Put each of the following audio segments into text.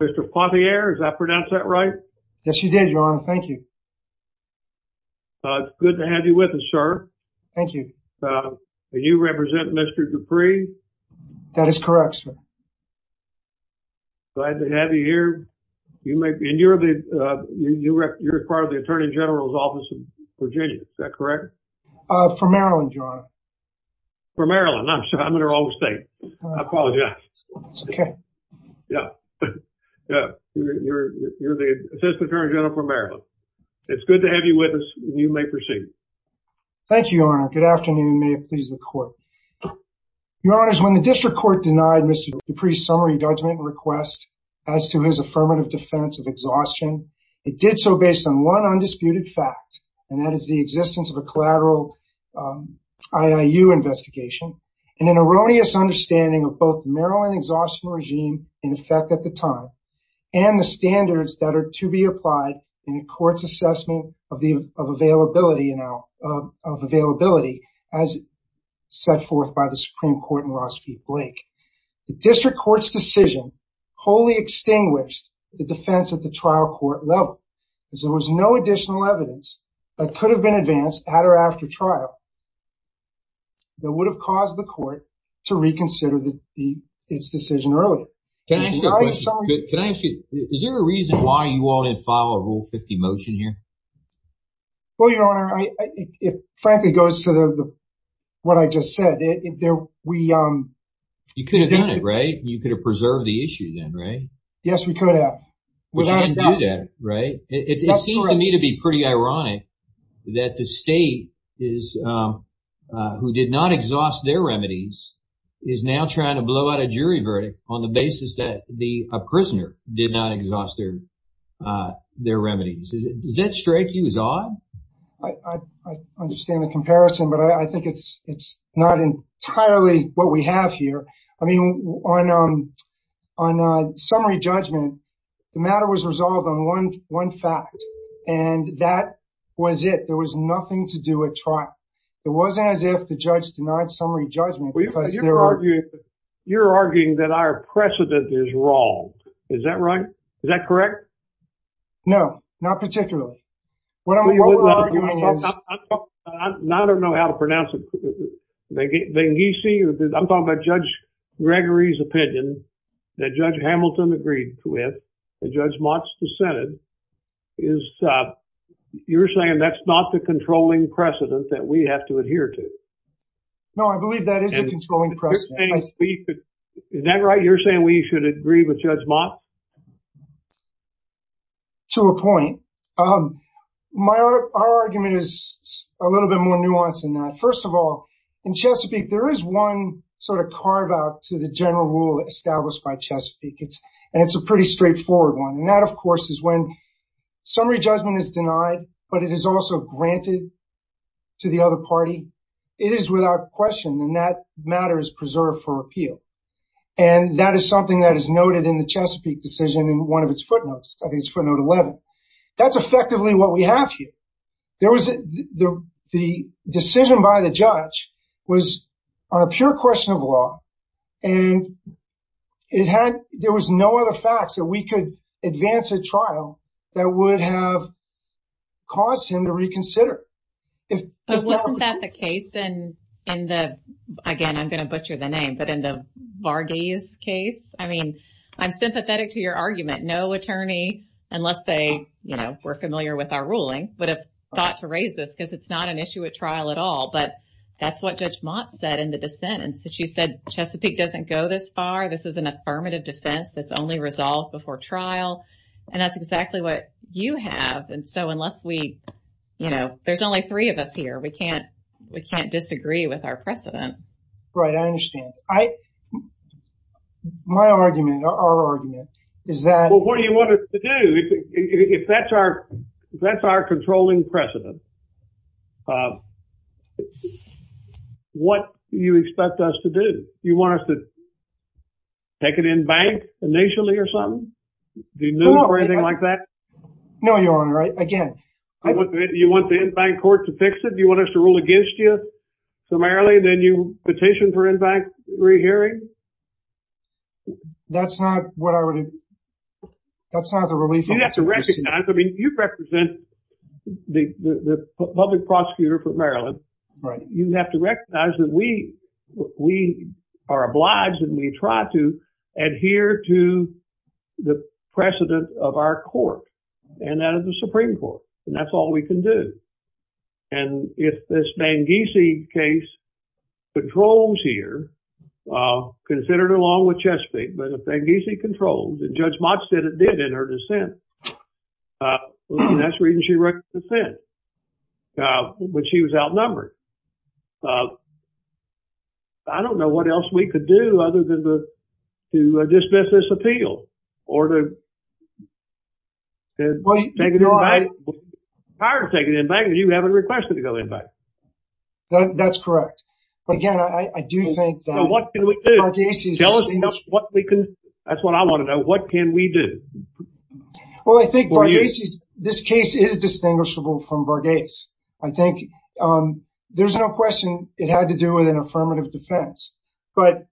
Mr. Poitier, did I pronounce that right? Yes, you did, Your Honor. Thank you. It's good to have you with us, sir. Thank you. And you represent Mr. Dupree? That is correct, sir. Glad to have you here. And you're part of the Attorney General's Office in Virginia. Is that correct? For Maryland, Your Honor. For Maryland. I'm sorry. I'm in her home state. I apologize. It's okay. Yeah. Yeah, you're the Assistant Attorney General for Maryland. It's good to have you with us. You may proceed. Thank you, Your Honor. Good afternoon. May it please the Court. Your Honor, when the District Court denied Mr. Dupree's summary judgment request as to his affirmative defense of exhaustion, it did so based on one undisputed fact, and that is the existence of a collateral IIU investigation and an erroneous understanding of both Maryland exhaustion regime in effect at the time, and the standards that are to be applied in a court's assessment of availability as set forth by the Supreme Court in Ross v. Blake. The District Court's decision wholly extinguished the defense at the trial court level, as there was no additional evidence that could have been advanced at or after trial that would have caused the court to make this decision early. Can I ask you, is there a reason why you all didn't file a Rule 50 motion here? Well, Your Honor, frankly, it goes to what I just said. You could have done it, right? You could have preserved the issue then, right? Yes, we could have. Which we didn't do that, right? It seems to me to be pretty ironic that the state, who did not exhaust their remedies, is now trying to blow out a jury verdict on the basis that a prisoner did not exhaust their remedies. Does that strike you as odd? I understand the comparison, but I think it's not entirely what we have here. I mean, on summary judgment, the matter was resolved on one fact, and that was it. There was nothing to do at trial. It wasn't as if the judge denied summary judgment. You're arguing that our precedent is wrong. Is that right? Is that correct? No, not particularly. I don't know how to pronounce it. I'm talking about Judge Gregory's opinion that Judge Hamilton agreed with, that Judge Mott's dissented. You're saying that's not the controlling precedent that we have to adhere to? No, I believe that is the controlling precedent. Is that right? You're saying we should agree with Judge Mott? To a point. Our argument is a little bit more nuanced than that. First of all, in Chesapeake, there is one sort of carve-out to the general rule established by Chesapeake, and it's a pretty straightforward one, and that, of course, is when summary judgment is denied, but it is also granted to the other party. It is without question, and that matter is preserved for appeal. And that is something that is noted in the Chesapeake decision in one of its footnotes. I think it's footnote 11. That's effectively what we have here. There was the decision by the judge was on a pure question of law, and there was no other facts that we could advance a trial that would have caused him to reconsider. But wasn't that the case in the, again, I'm going to butcher the name, but in the Varghese case? I mean, I'm sympathetic to your argument. No attorney, unless they, you know, were familiar with our ruling, would have thought to raise this because it's not an issue at trial at all, but that's what Judge Mott said in the dissent. And so she said, Chesapeake doesn't go this far. This is an affirmative defense that's only resolved before trial. And that's exactly what you have. And so unless we, you know, there's only three of us here. We can't, we can't disagree with our precedent. Right. I understand. I, my argument, our argument is that. Well, what do you want us to do if that's our, that's our controlling precedent, what you expect us to do? You want us to take it in bank initially or something? Do you know anything like that? No, Your Honor. Right. Again. Do you want the in-bank court to fix it? Do you want us to rule against you summarily? Then you petition for in-bank rehearing? That's not what I would, that's not the ruling. You have to recognize. I mean, you represent the public prosecutor for Maryland. Right. You have to recognize that we, we are obliged and we try to adhere to the precedent of our court and that of the Supreme court. And that's all we can do. And if this Mangese case controls here, considered along with Chesapeake, but if Mangese controls and Judge Mott said it did in her dissent. That's the reason she wrote dissent when she was outnumbered. I don't know what else we could do other than to dismiss this appeal or to take it in bank, prior to taking it in bank, you haven't requested to go in bank. That's correct. But again, I do think that. What can we do? Tell us what we can, that's what I want to know. What can we do? Well, I think Varghese, this case is distinguishable from Varghese. I think there's no question it had to do with an affirmative defense. But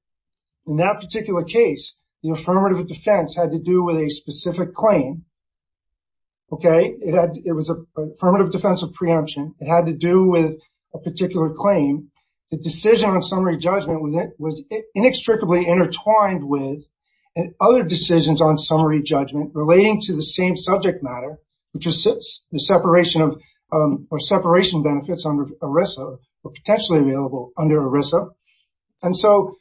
in that particular case, the affirmative defense had to do with a specific claim. Okay. It had, it was affirmative defense of preemption. It had to do with a particular claim. The decision on summary judgment with it was inextricably intertwined with and other decisions on summary judgment relating to the same subject matter, which is the separation of or separation benefits under ERISA or potentially available under ERISA. And so,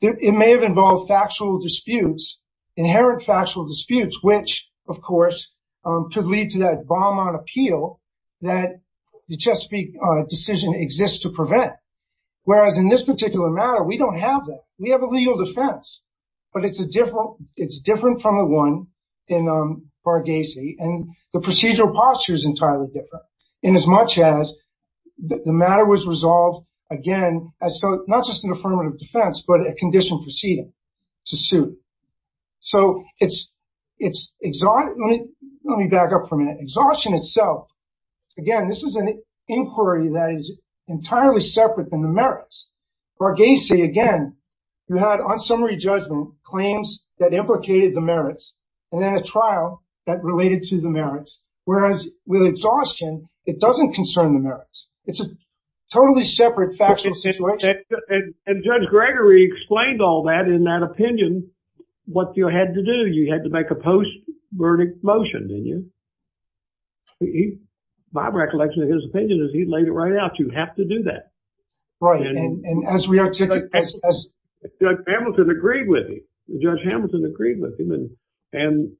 it may have involved factual disputes, inherent factual disputes, which of course could lead to that bomb on appeal that the Chesapeake decision exists to prevent. Whereas in this particular matter, we don't have that. We have a legal defense. But it's a different, it's different from the one in Varghese. And the procedural posture is entirely different in as much as the matter was resolved, again, as though not just an affirmative defense, but a condition proceeding to suit. So, it's, it's, let me back up for a minute. Exhaustion itself. Again, this is an inquiry that is entirely separate than the merits. Varghese, again, you had on summary judgment claims that implicated the merits and then a trial that related to the merits. Whereas with exhaustion, it doesn't concern the merits. It's a totally separate factual situation. And Judge Gregory explained all that in that opinion. What you had to do, you had to make a post verdict motion, didn't you? My recollection of his opinion is he laid it right out. You have to do that. Right. And, and as we are, Judge Hamilton agreed with me. Judge Hamilton agreed with him. And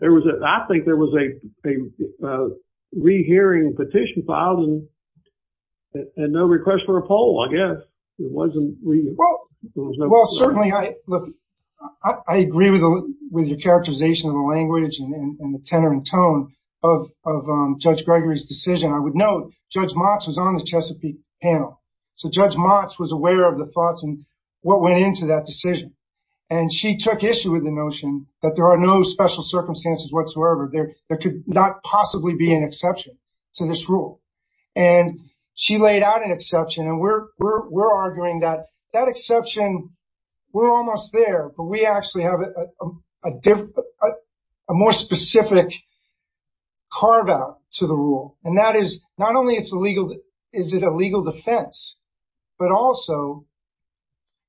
there was a, I think there was a, a rehearing petition filed and no request for a poll, I guess. It wasn't. Well, well, certainly I, look, I agree with, with your characterization of the language and the tenor and tone of, of Judge Gregory's decision. I would note Judge Mox was on the Chesapeake panel. So Judge Mox was aware of the thoughts and what went into that decision. And she took issue with the notion that there are no special circumstances whatsoever. There, there could not possibly be an exception to this rule. And she laid out an exception. And we're, we're, we're arguing that that exception, we're almost there, but we actually have a different, a more specific carve out to the rule. And that is not only it's a legal, is it a legal defense? But also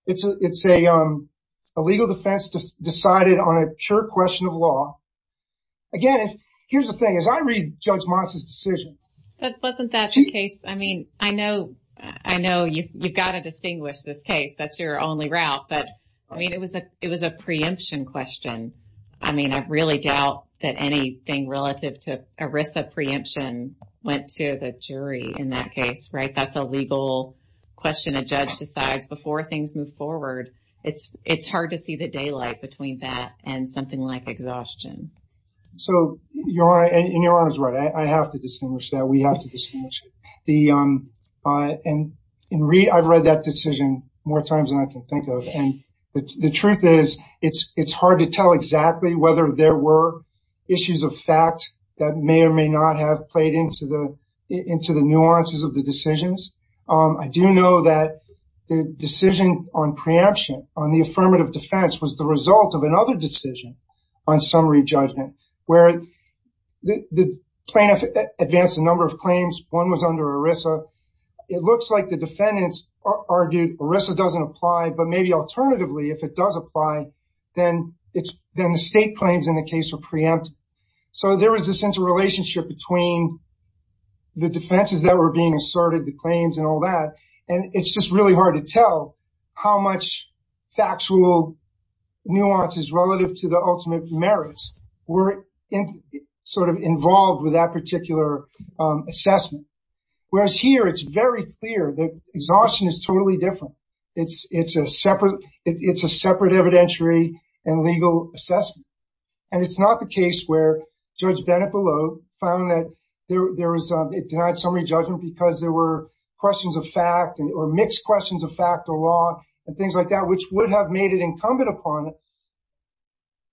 it's a, it's a, a legal defense decided on a pure question of law. Again, here's the thing, as I read Judge Mox's decision. That wasn't that case. I mean, I know, I know you, you've got to distinguish this case. That's your only route. But I mean, it was a, it was a preemption question. I mean, I really doubt that anything relative to a risk of preemption went to the jury in that case, right? That's a legal question. A judge decides before things move forward. It's, it's hard to see the daylight between that and something like exhaustion. So, Your Honor, and Your Honor's right. I have to distinguish that. We have to distinguish. The, and I've read that decision more times than I can think of. And the truth is it's, it's hard to tell exactly whether there were issues of fact that may or may not have played into the, into the nuances of the decisions. I do know that the decision on preemption on the affirmative defense was the result of another decision on summary judgment, where the plaintiff advanced a number of claims. One was under ERISA. It looks like the defendants argued ERISA doesn't apply, but maybe alternatively, if it does apply, then it's, then the state claims in the case were preempted. So there was this interrelationship between the defenses that were being asserted, the claims and all that. And it's just really hard to tell how much factual nuances relative to the ultimate merits were sort of involved with that particular assessment. Whereas here, it's very clear that exhaustion is totally different. It's, it's a separate, it's a separate evidentiary and legal assessment. And it's not the case where Judge Bennet below found that there was, it denied summary judgment because there were questions of fact or mixed questions of fact or law and things like that, which would have made it incumbent upon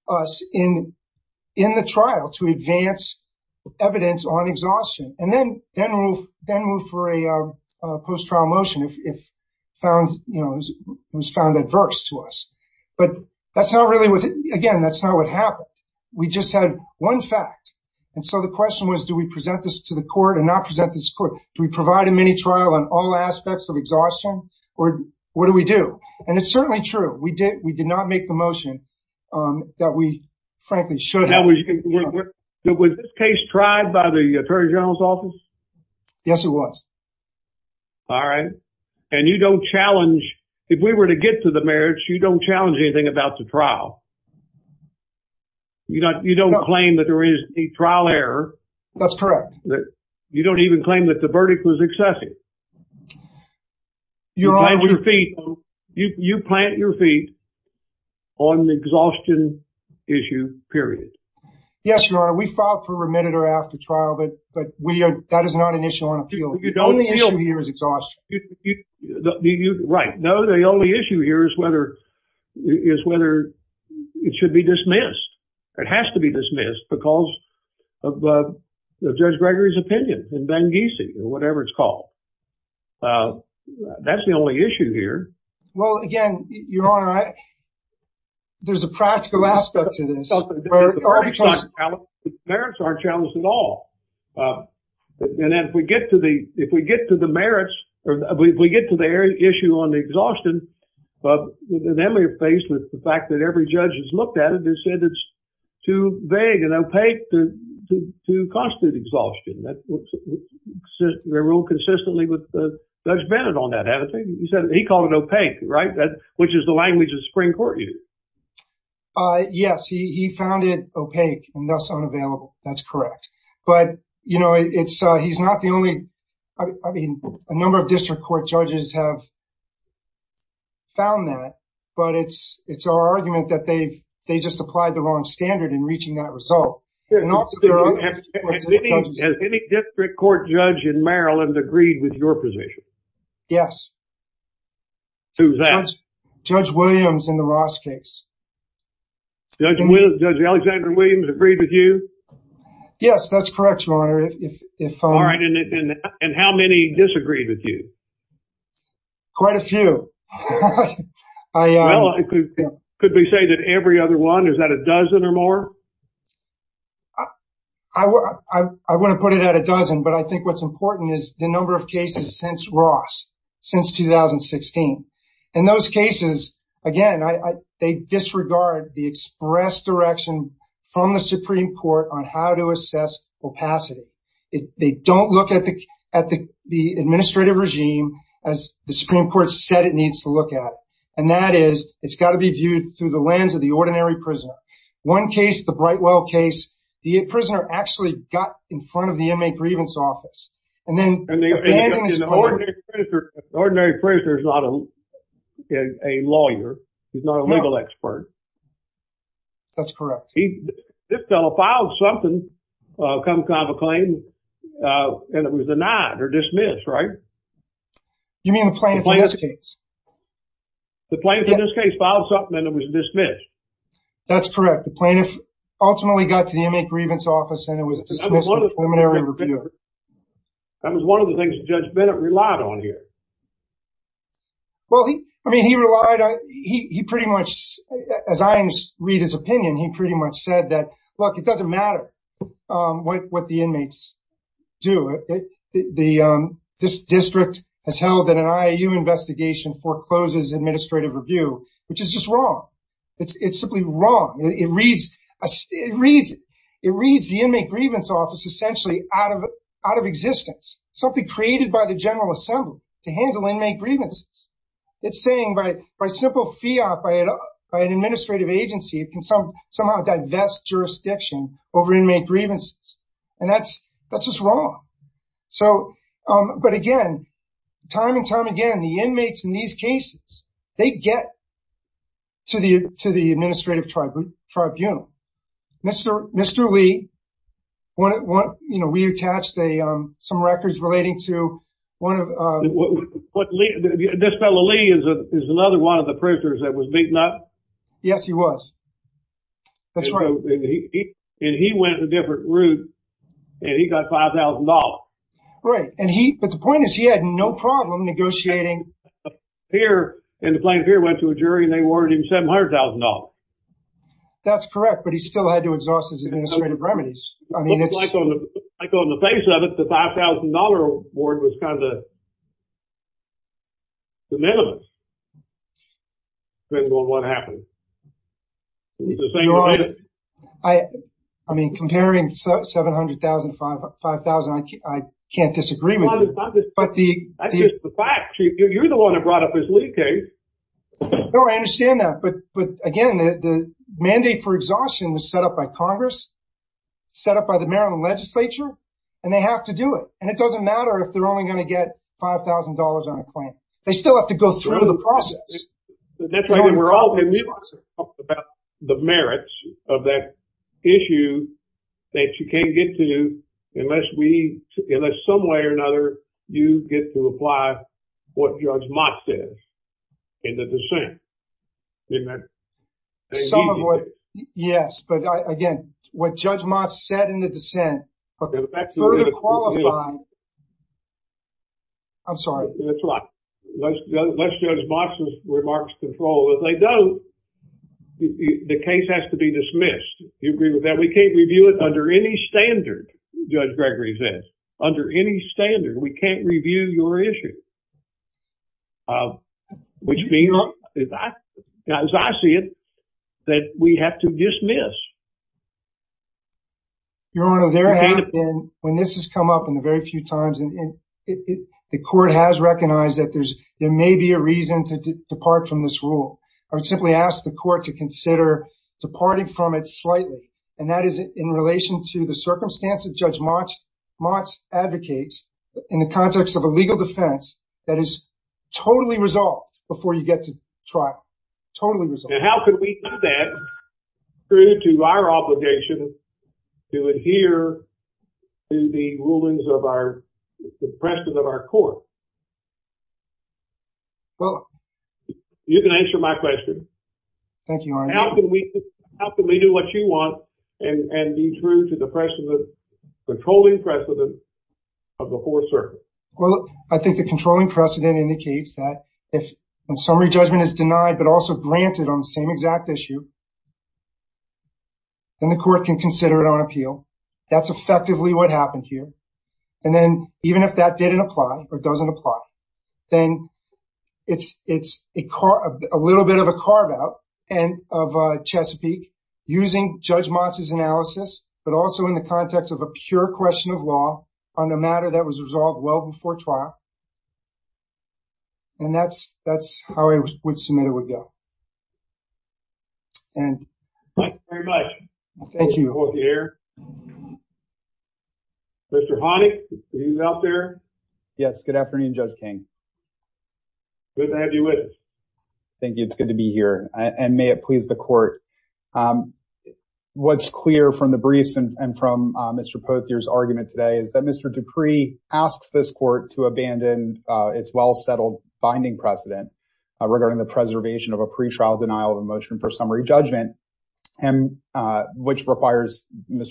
us in, in the trial to advance evidence on exhaustion and then, then move, then move for a post-trial motion if found, you know, it was found adverse to us. But that's not really what, again, that's not what happened. We just had one fact. And so the question was, do we present this to the court and not present this court? Do we provide a mini trial on all aspects of exhaustion? Or what do we do? And it's certainly true. We did, we did not make the motion that we frankly should have. Was this case tried by the Attorney General's office? Yes, it was. All right. And you don't challenge, if we were to get to the merits, you don't challenge anything about the trial. You don't claim that there is a trial error. That's correct. That you don't even claim that the verdict was excessive. You plant your feet, you plant your feet on the exhaustion issue, period. Yes, Your Honor. We filed for remitted or after trial, but, but we are, that is not an issue on appeal. The only issue here is exhaustion. No, the only issue here is whether, is whether, you know, whether the it should be dismissed. It has to be dismissed because of Judge Gregory's opinion in Benghisi or whatever it's called. That's the only issue here. Well, again, Your Honor, I, there's a practical aspect to this. Merits aren't challenged at all. And then if we get to the, if we get to the merits or we get to the area issue on the exhaustion, but then we're faced with the fact that every judge has looked at it and said it's too vague and opaque to constitute exhaustion. That was ruled consistently with Judge Bennett on that attitude. He said, he called it opaque, right? Which is the language the Supreme Court used. Yes, he found it opaque and thus unavailable. That's correct. But, you know, it's, he's not the only, I mean, a number of district court judges have found that, but it's, it's our argument that they've, they just applied the wrong standard in reaching that result. Has any district court judge in Maryland agreed with your position? Yes. Who's that? Judge Williams in the Ross case. Judge, Judge Alexander Williams agreed with you? Yes, that's correct, Your Honor. If, if. All right. And how many disagreed with you? Quite a few. Well, it could be say that every other one, is that a dozen or more? I would, I want to put it at a dozen, but I think what's important is the number of cases since Ross, since 2016. In those cases, again, I, they disregard the express direction from the Supreme Court on how to assess opacity. They don't look at the, at the, the administrative regime as the Supreme Court said it needs to look at. And that is, it's got to be viewed through the lens of the ordinary prisoner. One case, the Brightwell case, the prisoner actually got in front of the inmate grievance office. And then. Ordinary prisoner is not a lawyer. He's not a legal expert. That's correct. He, this fellow filed something, some kind of a claim, and it was denied or dismissed, right? You mean the plaintiff in this case? The plaintiff in this case filed something and it was dismissed. That's correct. The plaintiff ultimately got to the inmate grievance office and it was dismissed in preliminary review. That was one of the things that Judge Bennett relied on here. Well, he, I mean, he relied on, he, he pretty much, as I read his opinion, he pretty much said that, look, it doesn't matter what the inmates do. It, the, this district has held that an IAU investigation forecloses administrative review, which is just wrong. It's simply wrong. It reads, it reads, it reads the inmate grievance office essentially out of, out of existence. Something created by the general assembly to handle inmate grievances. It's saying by, by simple fiat, by an administrative agency, it can somehow divest jurisdiction over inmate grievances. And that's, that's just wrong. So, but again, time and time again, the inmates in these cases, they get to the, to the administrative tribunal. Mr. Mr. Lee, you know, we attached a, some records relating to one of, What Lee, this fellow Lee is another one of the prisoners that was beaten up. Yes, he was. That's right. And he, and he went a different route and he got $5,000. Right. And he, but the point is he had no problem negotiating. Pierre and the plaintiff Pierre went to a jury and they awarded him $700,000. That's correct. But he still had to exhaust his administrative remedies. I mean, it's like on the, like on the face of it, the $5,000 award was kind of a de minimis. Depending on what happened. I mean, comparing $700,000 to $5,000, I can't disagree with you. But the, That's just the facts. You're the one that brought up this Lee case. No, I understand that. But, but again, the mandate for exhaustion was set up by Congress, set up by the Maryland legislature, and they have to do it. And it doesn't matter if they're only going to get $5,000 on a claim. They still have to go through the process. That's why we're all talking about the merits of that issue that you can't get to unless we, unless some way or another, you get to apply what Judge Mott said in the dissent. Didn't that? Some of what, yes. But again, what Judge Mott said in the dissent further qualified. I'm sorry. That's right. Let's judge Mott's remarks control. If they don't, the case has to be dismissed. Do you agree with that? We can't review it under any standard, Judge Gregory says. Under any standard, we can't review your issue. Which means, as I see it, that we have to dismiss. Your Honor, there have been, when this has come up in the very few times, and the court has recognized that there's, there may be a reason to depart from this rule. I would simply ask the court to consider departing from it slightly. And that is in relation to the circumstance that Judge Mott advocates in the context of a legal defense that is totally resolved before you get to trial, totally resolved. And how could we set through to our obligation to adhere to the precedent of our court? Well. You can answer my question. Thank you, Your Honor. How can we do what you want and be true to the precedent, the controlling precedent of the Fourth Circuit? Well, I think the controlling precedent indicates that if a summary judgment is denied, but also granted on the same exact issue, then the court can consider it on appeal. That's effectively what happened here. And then even if that didn't apply or doesn't apply, then it's a little bit of a carve out of Chesapeake using Judge Mott's analysis, but also in the context of a pure question of law on a matter that was resolved well before trial. And that's how I would submit it would go. And. Thank you very much. Thank you. Pothier. Mr. Honig, he's out there. Yes. Good afternoon, Judge King. Good to have you with us. Thank you. It's good to be here. And may it please the court. What's clear from the briefs and from Mr. Pothier's argument today is that Mr. Dupree asks this court to abandon its well-settled binding precedent regarding the preservation of a pre-trial denial of a motion for Mr.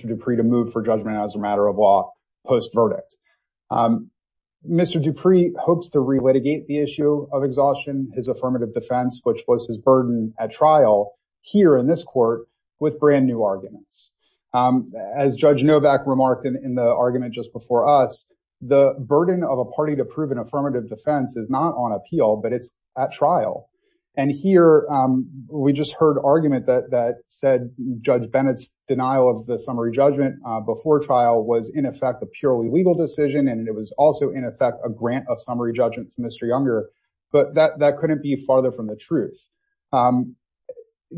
Dupree to move for judgment as a matter of law post verdict. Mr. Dupree hopes to relitigate the issue of exhaustion, his affirmative defense, which was his burden at trial here in this court with brand new arguments. As Judge Novak remarked in the argument just before us, the burden of a party to prove an affirmative defense is not on appeal, but it's at trial. And here we just heard argument that said Judge Bennett's denial of the summary judgment before trial was in effect a purely legal decision and it was also in effect a grant of summary judgment for Mr. Younger, but that couldn't be farther from the truth.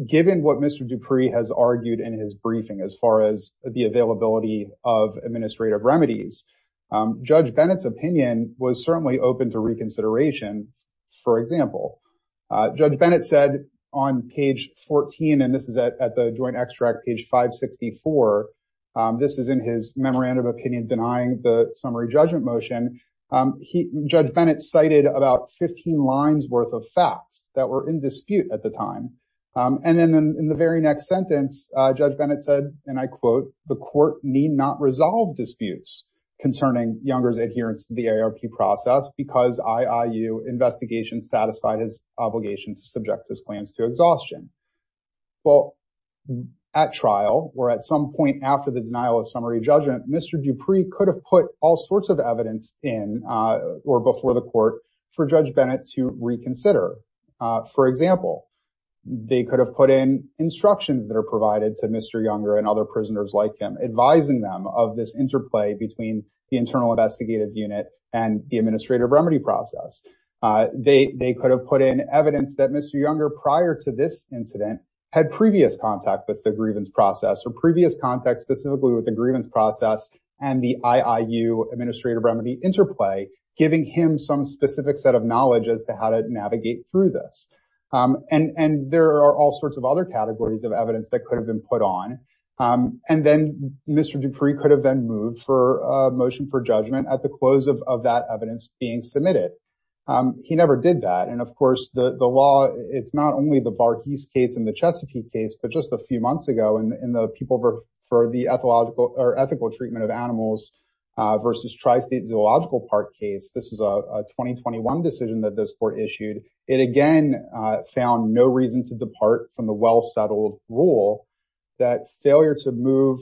Given what Mr. Dupree has argued in his briefing as far as the availability of administrative remedies, Judge Bennett's opinion was certainly open to reconsideration. For example, Judge Bennett said on page 14, and this is at the joint extract page 564. This is in his memorandum of opinion denying the summary judgment motion. Judge Bennett cited about 15 lines worth of facts that were in dispute at the time. And then in the very next sentence, Judge Bennett said, and I quote, the court need not resolve disputes concerning Younger's adherence to the AARP process because IIU investigation satisfied his obligation to subject his plans to exhaustion. Well, at trial or at some point after the denial of summary judgment, Mr. Dupree could have put all sorts of evidence in or before the court for Judge Bennett to reconsider. For example, they could have put in instructions that are provided to Mr. Younger and other prisoners like him, advising them of this interplay between the internal investigative unit and the administrative remedy process. They could have put in evidence that Mr. Incident had previous contact with the grievance process or previous contact specifically with the grievance process and the IIU administrative remedy interplay, giving him some specific set of knowledge as to how to navigate through this. And there are all sorts of other categories of evidence that could have been put on. And then Mr. Dupree could have been moved for a motion for judgment at the close of that evidence being submitted. He never did that. And of course the law, it's not only the Barhees case and the Chesapeake case, but just a few months ago in the people for the ethical treatment of animals versus tri-state zoological park case. This was a 2021 decision that this court issued. It again found no reason to depart from the well-settled rule that failure to move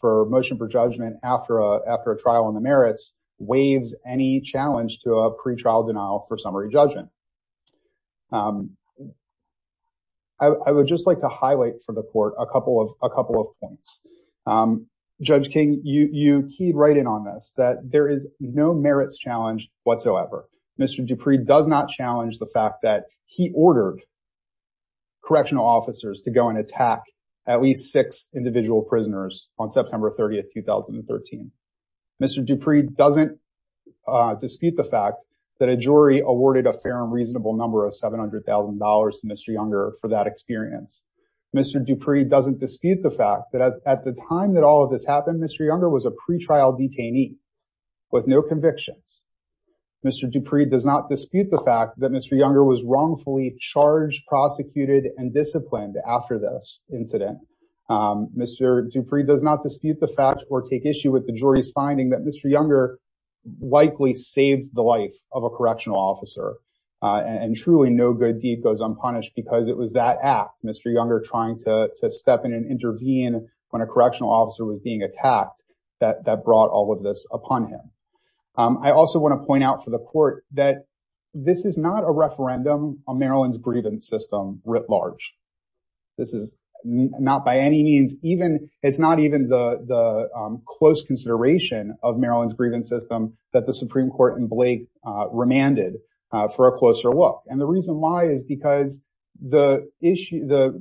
for motion for judgment after a trial on the merits waives any challenge to a pretrial denial for summary judgment. I would just like to highlight for the court a couple of points. Judge King, you keyed right in on this that there is no merits challenge whatsoever. Mr. Dupree does not challenge the fact that he ordered correctional officers to go and attack at least six individual prisoners on September 30th, 2013. Mr. Dupree doesn't dispute the fact that a jury awarded a fair and reasonable number of $700,000 to Mr. Younger for that experience. Mr. Dupree doesn't dispute the fact that at the time that all of this happened, Mr. Younger was a pretrial detainee with no convictions. Mr. Dupree does not dispute the fact that Mr. Younger was wrongfully charged, prosecuted, and disciplined after this incident. Mr. Dupree does not dispute the fact or take issue with the jury's finding that Mr. officer and truly no good deed goes unpunished because it was that act. Mr. Younger trying to step in and intervene when a correctional officer was being attacked that brought all of this upon him. I also want to point out for the court that this is not a referendum on Maryland's grievance system writ large. This is not by any means even, it's not even the close consideration of Maryland's grievance system that the Supreme Court decided for a closer look. And the reason why is because the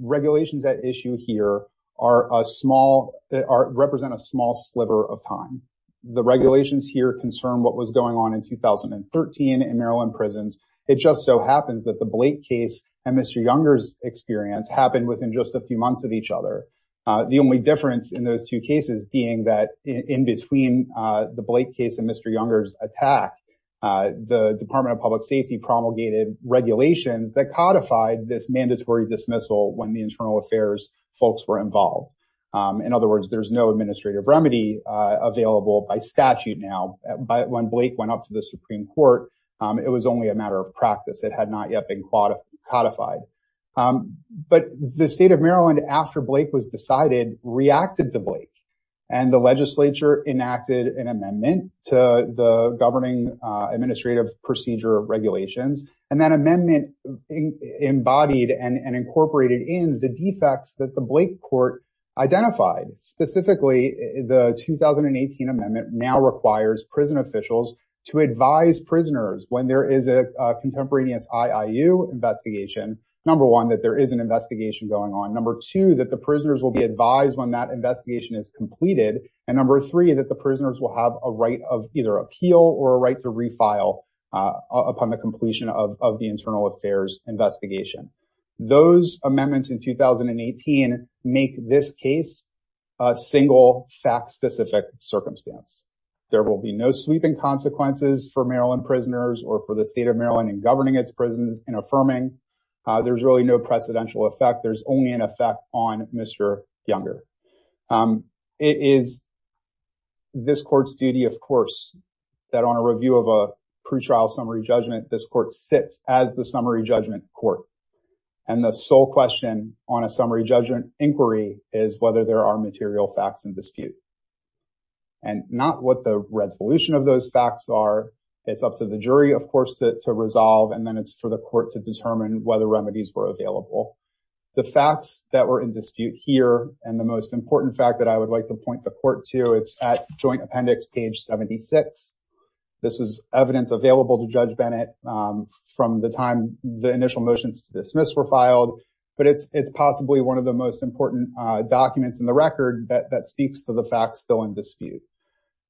regulations that issue here represent a small sliver of time. The regulations here concern what was going on in 2013 in Maryland prisons. It just so happens that the Blake case and Mr. Younger's experience happened within just a few months of each other. The only difference in those two cases being that in between the Blake case and Mr. Younger's case, there was no administrative remedy available by statute. Now, when Blake went up to the Supreme Court, it was only a matter of practice. It had not yet been codified, but the state of Maryland after Blake was decided, reacted to Blake and the legislature enacted And the state of Maryland, after Blake was decided, reacted And that amendment embodied and incorporated in the defects that the Blake court identified, specifically the 2018 amendment now requires prison officials to advise prisoners when there is a contemporaneous IIU investigation. Number one, that there is an investigation going on. Number two, that the prisoners will be advised when that investigation is completed. And number three, that the prisoners will have a right of either appeal or a right to refile upon the completion of the internal affairs investigation. Those amendments in 2018 make this case a single fact-specific circumstance. There will be no sweeping consequences for Maryland prisoners or for the state of Maryland in governing its prisons and affirming. There's really no precedential effect. There's only an effect on Mr. Younger. It is this court's duty, of course, that on a review of a pretrial summary judgment, this court sits as the summary judgment court. And the sole question on a summary judgment inquiry is whether there are material facts in dispute. And not what the resolution of those facts are. It's up to the jury, of course, to resolve and then it's for the court to determine whether remedies were available. The facts that were in dispute here, and the most important fact that I would like to point the court to, it's at joint appendix page 76. This is evidence available to Judge Bennett from the time the initial motions to dismiss were filed, but it's possibly one of the most important documents in the record that speaks to the facts still in dispute.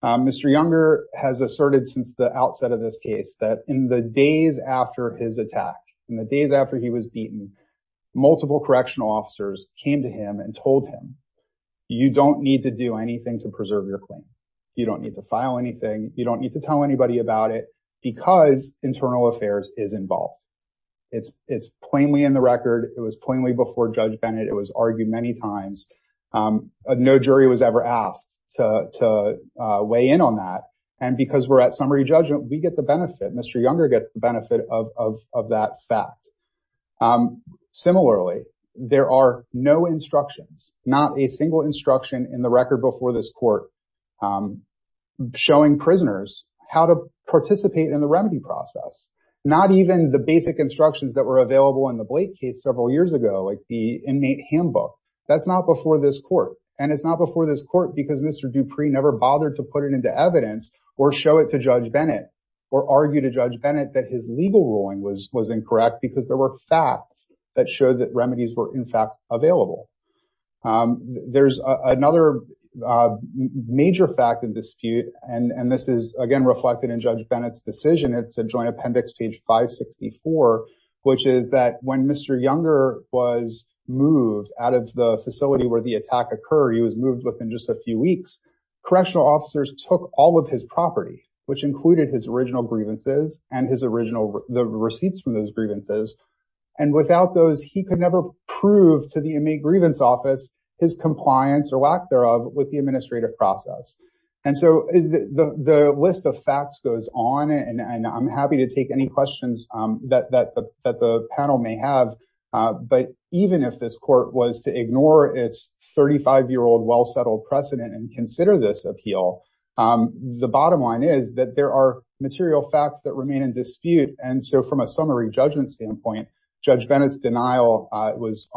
Mr. Younger has asserted since the outset of this case that in the days after his attack, in the days after he was beaten, multiple correctional officers came to him and told him, you don't need to do anything to preserve your claim. You don't need to file anything. You don't need to tell anybody about it because internal affairs is involved. It's plainly in the record. It was plainly before Judge Bennett. It was argued many times. No jury was ever asked to weigh in on that. And because we're at summary judgment, we get the benefit. Mr. Younger gets the benefit of that fact. Similarly, there are no instructions, not a single instruction in the record before this court showing prisoners how to participate in the remedy process. Not even the basic instructions that were available in the Blake case several years ago, like the inmate handbook. That's not before this court, and it's not before this court because Mr. Dupree never bothered to put it into evidence or show it to Judge Bennett or argue to Judge Bennett that his legal ruling was incorrect because there were facts that showed that remedies were in fact available. There's another major fact of dispute, and this is again reflected in Judge Bennett's decision. It's a joint appendix, page 564, which is that when Mr. Younger was moved out of the facility where the attack occurred, he was moved within just a few weeks. Correctional officers took all of his property, which included his original grievances and the receipts from those grievances, and without those, he could never prove to the Inmate Grievance Office his compliance or lack thereof with the administrative process. And so the list of facts goes on, and I'm happy to take any questions that the panel may have, but even if this court was to ignore its 35-year-old well-settled precedent and consider this appeal, the bottom line is that there are material facts that remain in dispute. And so from a summary judgment standpoint, Judge Bennett's denial was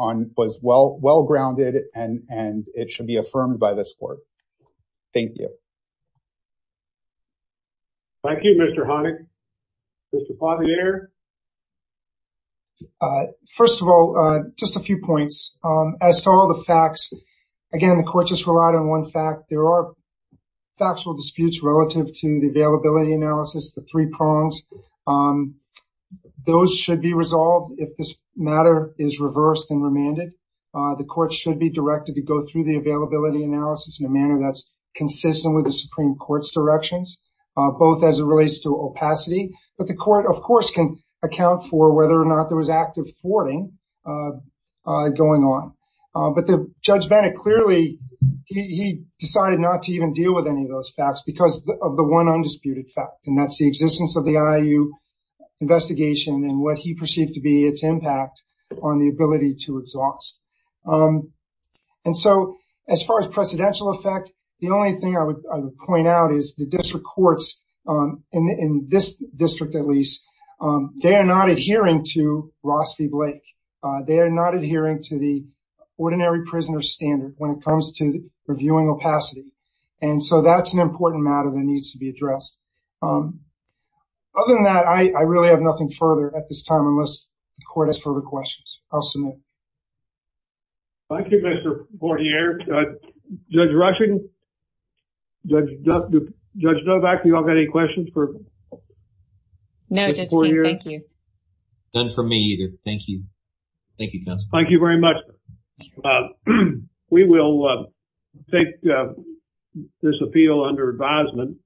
well-grounded, and it should be affirmed by this court. Thank you. Thank you, Mr. Honig. Mr. Pozner? First of all, just a few points. As to all the facts, again, the court just relied on one fact. There are factual disputes relative to the availability analysis, the three prongs. Those should be resolved if this matter is reversed and remanded. The court should be directed to go through the availability analysis in a manner that's consistent with the Supreme Court's directions, both as it relates to opacity, but the court, of course, can account for whether or not there was active thwarting going on. But Judge Bennett clearly, he decided not to even deal with any of those facts because of the one undisputed fact, and that's the existence of the IU investigation and what he perceived to be its impact on the ability to exhaust. And so as far as precedential effect, the only thing I would point out is the district courts, in this district at least, they are not adhering to Ross v. Blake. They are not adhering to the ordinary prisoner standard when it comes to reviewing opacity. And so that's an important matter that needs to be addressed. Other than that, I really have nothing further at this time unless the court has further questions. I'll submit. Thank you, Mr. Poirier. Judge Rushing, Judge Novak, do you all have any questions for Judge Poirier? None for me either. Thank you. Thank you, counsel. Thank you very much. We will take this appeal under advisement.